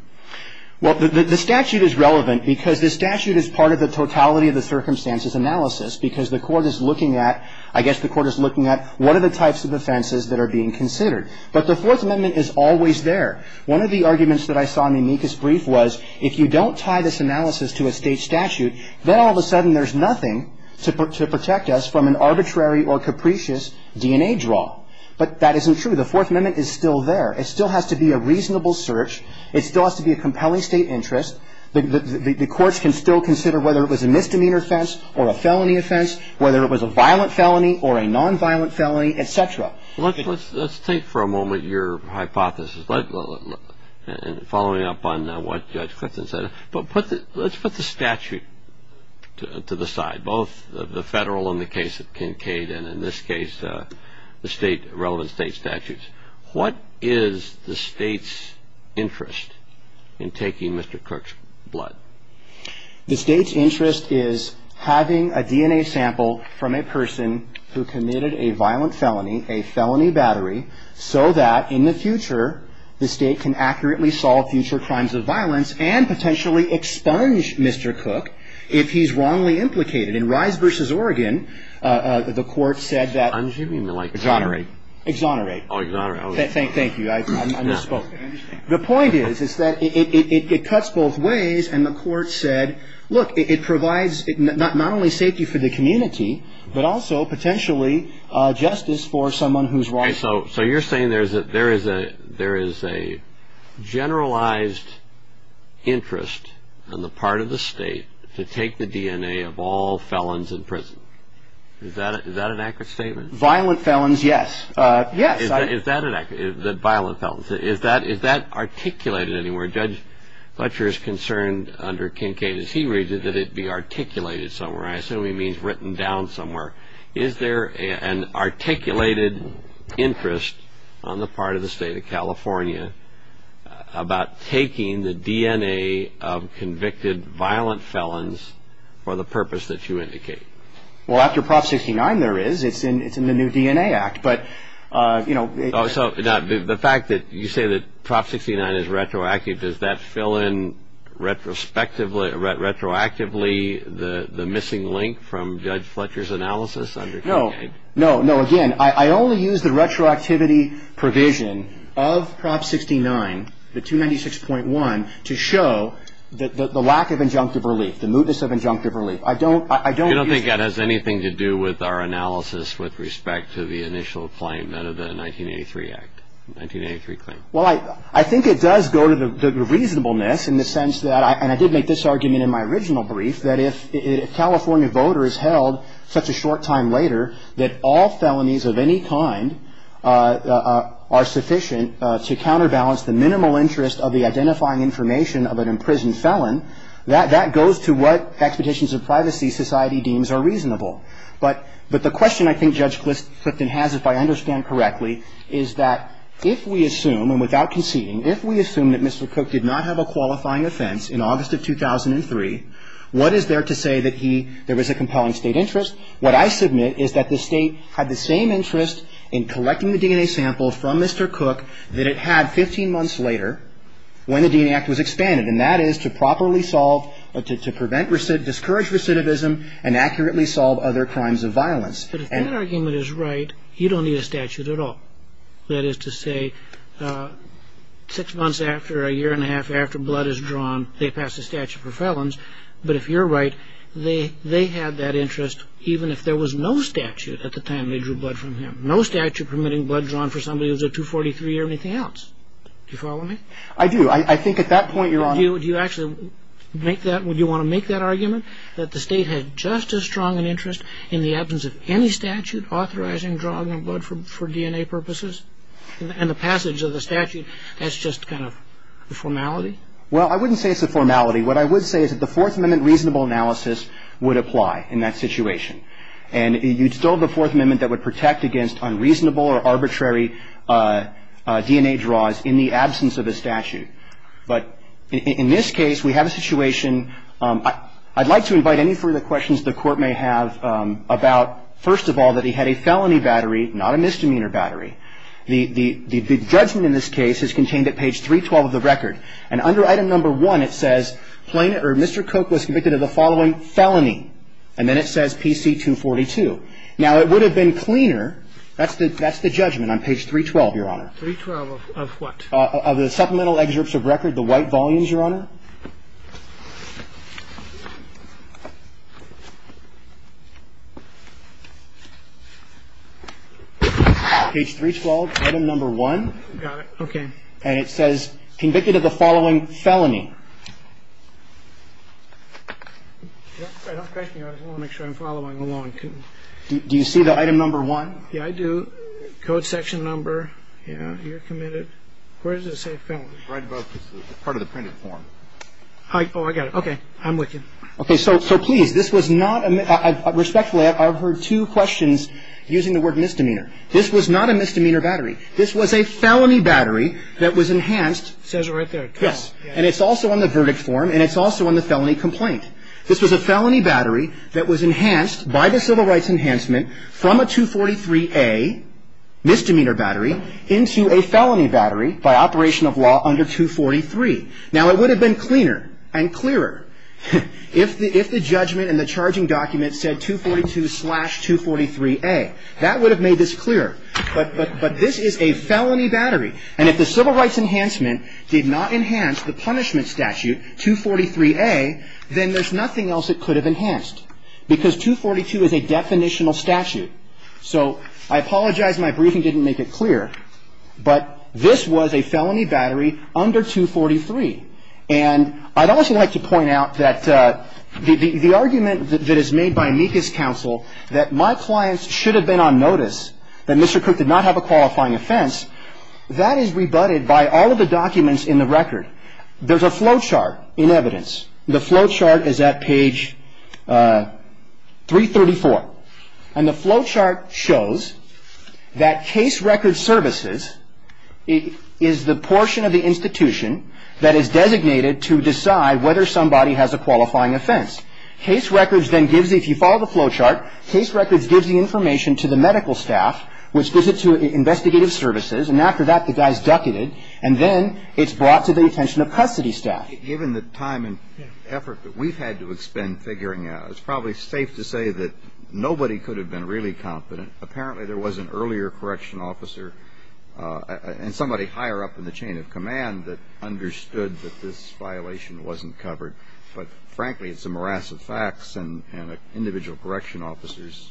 Well, the statute is relevant because the statute is part of the totality of the circumstances analysis, because the Court is looking at — I guess the Court is looking at what are the types of offenses that are being considered. But the Fourth Amendment is always there. One of the arguments that I saw in the amicus brief was if you don't tie this analysis to a state statute, then all of a sudden there's nothing to protect us from an arbitrary or capricious DNA draw. But that isn't true. The Fourth Amendment is still there. It still has to be a reasonable search. It still has to be a compelling state interest. The courts can still consider whether it was a misdemeanor offense or a felony offense, whether it was a violent felony or a nonviolent felony, et cetera. Let's take for a moment your hypothesis, following up on what Judge Clifton said. But put the — let's put the statute to the side, both the federal and the case of Kincaid, and in this case the state — relevant state statutes. What is the state's interest in taking Mr. Cook's blood? The state's interest is having a DNA sample from a person who committed a violent felony, a felony battery, so that in the future the state can accurately solve future crimes of violence and potentially expunge Mr. Cook if he's wrongly implicated. In Rise v. Oregon, the court said that — I'm assuming they're like — Exonerate. Exonerate. Oh, exonerate. Thank you. I misspoke. The point is, is that it cuts both ways. And the court said, look, it provides not only safety for the community, but also potentially justice for someone who's wrongfully convicted. Okay. So you're saying there is a generalized interest on the part of the state to take the DNA of all felons in prison. Is that an accurate statement? Violent felons, yes. Yes. Is that accurate, that violent felons? Is that articulated anywhere? Judge Fletcher is concerned under Kincaid, as he reads it, that it be articulated somewhere. I assume he means written down somewhere. Is there an articulated interest on the part of the state of California about taking the DNA of convicted violent felons for the purpose that you indicate? Well, after Prop 69 there is. It's in the new DNA Act. But, you know — Oh, so the fact that you say that Prop 69 is retroactive, does that fill in retroactively the missing link from Judge Fletcher's analysis under Kincaid? No. No. No. Again, I only use the retroactivity provision of Prop 69, the 296.1, to show the lack of injunctive relief, the mootness of injunctive relief. I don't use — You don't think that has anything to do with our analysis with respect to the initial claim out of the 1983 Act, 1983 claim? Well, I think it does go to the reasonableness in the sense that — and I did make this argument in my original brief, that if a California voter is held such a short time later, that all felonies of any kind are sufficient to counterbalance the minimal interest of the identifying information of an imprisoned felon, that that goes to what expectations of privacy society deems are reasonable. But the question I think Judge Clifton has, if I understand correctly, is that if we assume, and without conceding, if we assume that Mr. Cook did not have a qualifying offense in August of 2003, what is there to say that he — there was a compelling State interest? What I submit is that the State had the same interest in collecting the DNA sample from Mr. Cook that it had 15 months later when the DNA Act was expanded, and that is to properly solve — to prevent — discourage recidivism and accurately solve other crimes of violence. Yes, but if that argument is right, you don't need a statute at all. That is to say, six months after, a year and a half after blood is drawn, they pass a statute for felons, but if you're right, they had that interest even if there was no statute at the time they drew blood from him. No statute permitting blood drawn for somebody who's a 243 or anything else. Do you follow me? I do. I think at that point you're on — Do you actually make that — would you want to make that argument, that the State had just as strong an interest in the absence of any statute authorizing drawing of blood for DNA purposes? And the passage of the statute, that's just kind of the formality? Well, I wouldn't say it's a formality. What I would say is that the Fourth Amendment reasonable analysis would apply in that situation. And you'd still have the Fourth Amendment that would protect against unreasonable or arbitrary DNA draws in the absence of a statute. But in this case, we have a situation — I'd like to invite any further questions the Court may have about, first of all, that he had a felony battery, not a misdemeanor battery. The judgment in this case is contained at page 312 of the record. And under item number one, it says Mr. Koch was convicted of the following felony. And then it says PC-242. Now, it would have been cleaner — that's the judgment on page 312, Your Honor. 312 of what? Of the supplemental excerpts of record, the white volumes, Your Honor. Page 312, item number one. Got it. Okay. And it says convicted of the following felony. I don't question you. I just want to make sure I'm following along. Do you see the item number one? Yeah, I do. Code section number. Yeah. You're committed. Where does it say felony? Right above the part of the printed form. Oh, I got it. Okay. I'm with you. Okay. So please, this was not — respectfully, I've heard two questions using the word misdemeanor. This was not a misdemeanor battery. This was a felony battery that was enhanced. It says it right there. Yes. And it's also on the verdict form, and it's also on the felony complaint. This was a felony battery that was enhanced by the Civil Rights Enhancement from a 243A misdemeanor battery into a felony battery by operation of law under 243. Now, it would have been cleaner and clearer if the judgment and the charging document said 242-243A. That would have made this clearer. But this is a felony battery. And if the Civil Rights Enhancement did not enhance the punishment statute, 243A, then there's nothing else it could have enhanced because 242 is a definitional statute. So I apologize my briefing didn't make it clear. But this was a felony battery under 243. And I'd also like to point out that the argument that is made by Mika's counsel, that my clients should have been on notice, that Mr. Cook did not have a qualifying offense, that is rebutted by all of the documents in the record. There's a flow chart in evidence. The flow chart is at page 334. And the flow chart shows that case record services is the portion of the institution that is designated to decide whether somebody has a qualifying offense. Case records then gives you, if you follow the flow chart, case records gives the information to the medical staff, which gives it to investigative services. And after that, the guy's ducated. And then it's brought to the attention of custody staff. Given the time and effort that we've had to expend figuring out, it's probably safe to say that nobody could have been really confident. Apparently, there was an earlier correction officer and somebody higher up in the chain of command that understood that this violation wasn't covered. But frankly, it's a morass of facts. And individual correction officers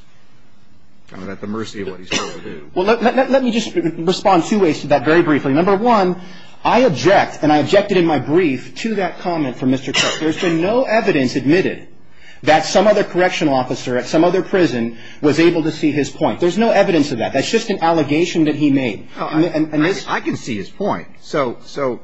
are at the mercy of what he's trying to do. Well, let me just respond two ways to that very briefly. Number one, I object, and I objected in my brief to that comment from Mr. Cook. There's been no evidence admitted that some other correctional officer at some other prison was able to see his point. There's no evidence of that. That's just an allegation that he made. I can see his point. So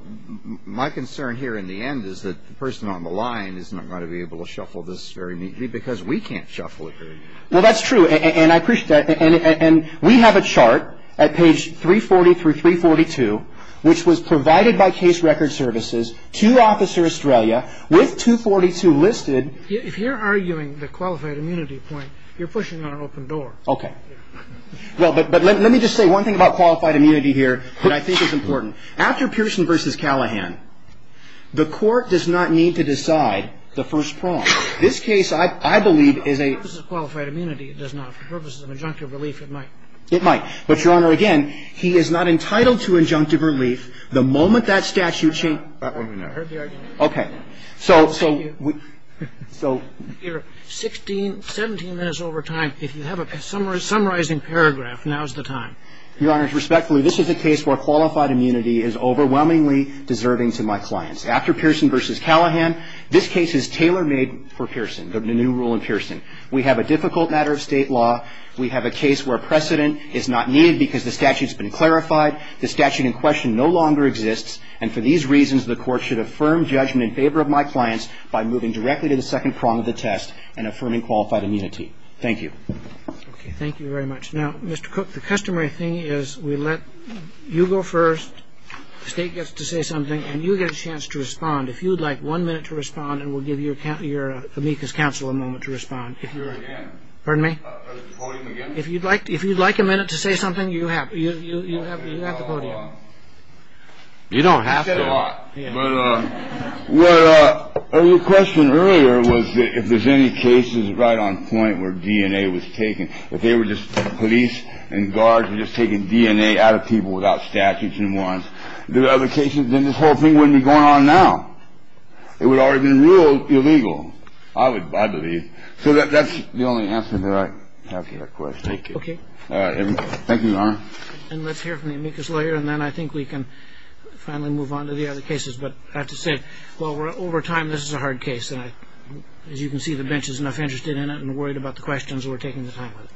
my concern here in the end is that the person on the line is not going to be able to shuffle this very neatly because we can't shuffle it very neatly. Well, that's true. And we have a chart at page 340 through 342, which was provided by case record in dressed read and we had the file before it and then the late criminal Cook had the same command, his point in holding him responsible for international services to Officer Estrella with 242 listed... If you're arguing the qualified immunity point, you're pushing on an open door. Okay. Well, but let me just say one thing about qualified immunity here that I think is important. After Pearson v. Callahan, the court does not need to decide the first prong. This case, I believe, is a... For purposes of qualified immunity, it does not. For purposes of injunctive relief, it might. It might. But, Your Honor, again, he is not entitled to injunctive relief the moment that statute changes... I heard the argument. Okay. So... You're 16, 17 minutes over time. If you have a summarizing paragraph, now's the time. Your Honor, respectfully, this is a case where qualified immunity is overwhelmingly deserving to my clients. After Pearson v. Callahan, this case is tailor-made for Pearson, the new rule in Pearson. We have a difficult matter of state law. We have a case where precedent is not needed because the statute's been clarified. The statute in question no longer exists. And for these reasons, the court should affirm judgment in favor of my clients by moving directly to the second prong of the test and affirming qualified immunity. Thank you. Okay. Thank you very much. Now, Mr. Cook, the customary thing is we let you go first. The State gets to say something, and you get a chance to respond. If you'd like one minute to respond, and we'll give your amicus counsel a moment to respond. If you're... Pardon me? You have the podium. You don't have to. You said a lot. But your question earlier was that if there's any cases right on point where DNA was taken, if they were just police and guards were just taking DNA out of people without statutes and warrants, the other cases, then this whole thing wouldn't be going on now. It would already have been ruled illegal, I believe. So that's the only answer that I have to that question. Thank you. Okay. Thank you, Your Honor. And let's hear from the amicus lawyer, and then I think we can finally move on to the other cases. But I have to say, while we're over time, this is a hard case. And as you can see, the bench is enough interested in it and worried about the questions we're taking the time with.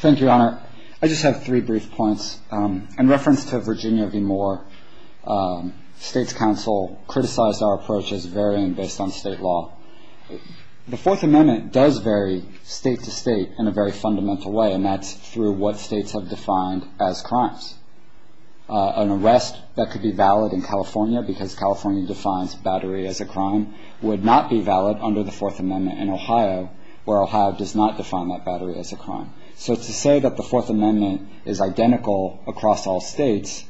Thank you, Your Honor. I just have three brief points. In reference to Virginia v. Moore, State's counsel criticized our approach as varying based on state law. The Fourth Amendment does vary state to state in a very fundamental way, and that's through what states have defined as crimes. An arrest that could be valid in California because California defines battery as a crime would not be valid under the Fourth Amendment in Ohio, where Ohio does not define that battery as a crime. So to say that the Fourth Amendment is identical across all states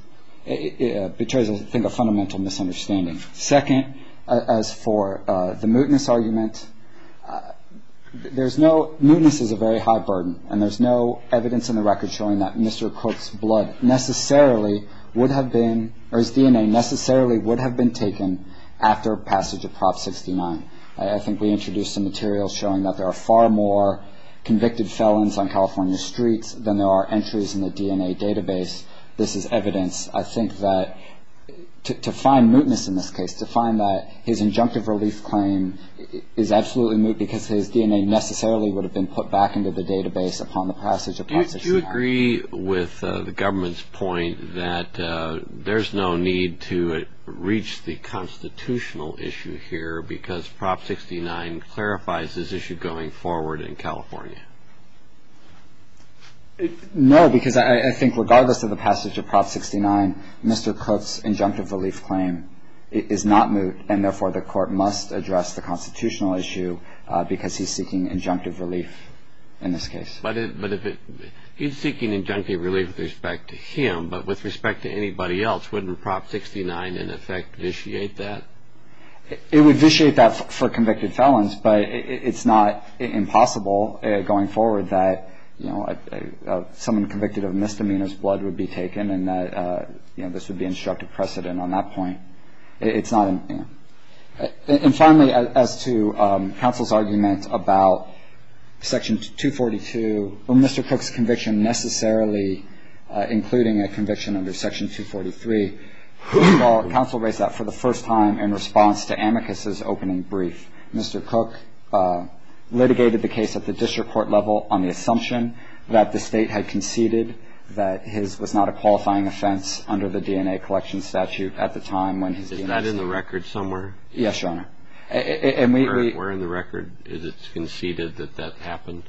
betrays, I think, a fundamental misunderstanding. Second, as for the mootness argument, there's no – mootness is a very high burden, and there's no evidence in the record showing that Mr. Cook's blood necessarily would have been – or his DNA necessarily would have been taken after passage of Prop 69. I think we introduced some material showing that there are far more convicted felons on California streets than there are entries in the DNA database. This is evidence. I think that to find mootness in this case, to find that his injunctive relief claim is absolutely moot because his DNA necessarily would have been put back into the database upon the passage of Prop 69. Do you agree with the government's point that there's no need to reach the constitutional issue here because Prop 69 clarifies this issue going forward in California? No, because I think regardless of the passage of Prop 69, Mr. Cook's injunctive relief claim is not moot, and therefore the court must address the constitutional issue because he's seeking injunctive relief in this case. But if it – he's seeking injunctive relief with respect to him, but with respect to anybody else, wouldn't Prop 69 in effect vitiate that? It would vitiate that for convicted felons, but it's not impossible going forward that someone convicted of misdemeanor's blood would be taken and that this would be instructive precedent on that point. It's not – and finally, as to counsel's argument about Section 242 or Mr. Cook's conviction necessarily including a conviction under Section 243, counsel raised that for the first time in response to Amicus's opening brief. Mr. Cook litigated the case at the district court level on the assumption that the state had conceded that his – was not a qualifying offense under the DNA collection statute at the time when his DNA was taken. Is that in the record somewhere? Yes, Your Honor. And we – Where in the record is it conceded that that happened?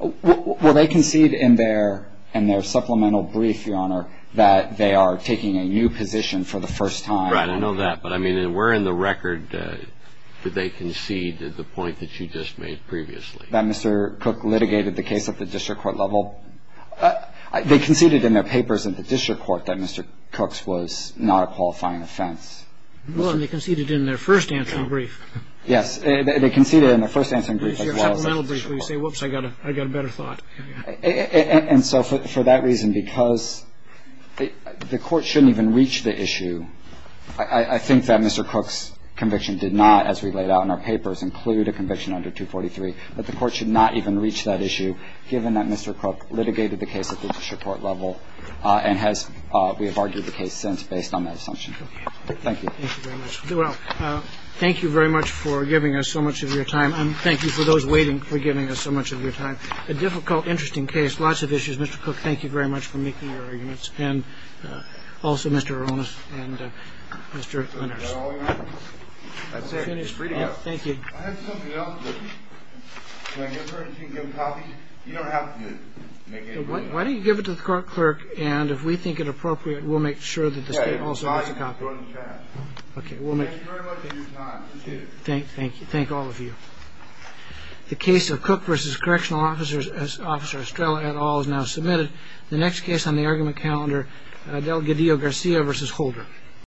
Well, they conceded in their – in their supplemental brief, Your Honor, that they are taking a new position for the first time. Right. I know that. But, I mean, where in the record did they concede the point that you just made previously? That Mr. Cook litigated the case at the district court level? They conceded in their papers at the district court that Mr. Cook's was not a qualifying offense. Well, and they conceded in their first answering brief. Yes. They conceded in their first answering brief as well. So your supplemental brief where you say, whoops, I got a better thought. And so for that reason, because the court shouldn't even reach the issue, I think that Mr. Cook's conviction did not, as we laid out in our papers, include a conviction under 243. But the court should not even reach that issue, given that Mr. Cook litigated the case at the district court level and has – we have argued the case since based on that assumption. Thank you. Thank you very much. Well, thank you very much for giving us so much of your time. And thank you for those waiting for giving us so much of your time. A difficult, interesting case. Lots of issues. Mr. Cook, thank you very much for making your arguments. And also, Mr. Aronis and Mr. Lenders. That's all we have. That's it. It's free to go. Thank you. I have something else with me. Can I give her and she can give copies? You don't have to make any rulings. Why don't you give it to the clerk, and if we think it appropriate, we'll make sure that the state also has a copy. Okay. Thank you very much for your time. Appreciate it. Thank all of you. The case of Cook v. Correctional Officer Estrella et al. is now submitted. The next case on the argument calendar, Delgadillo-Garcia v. Holder.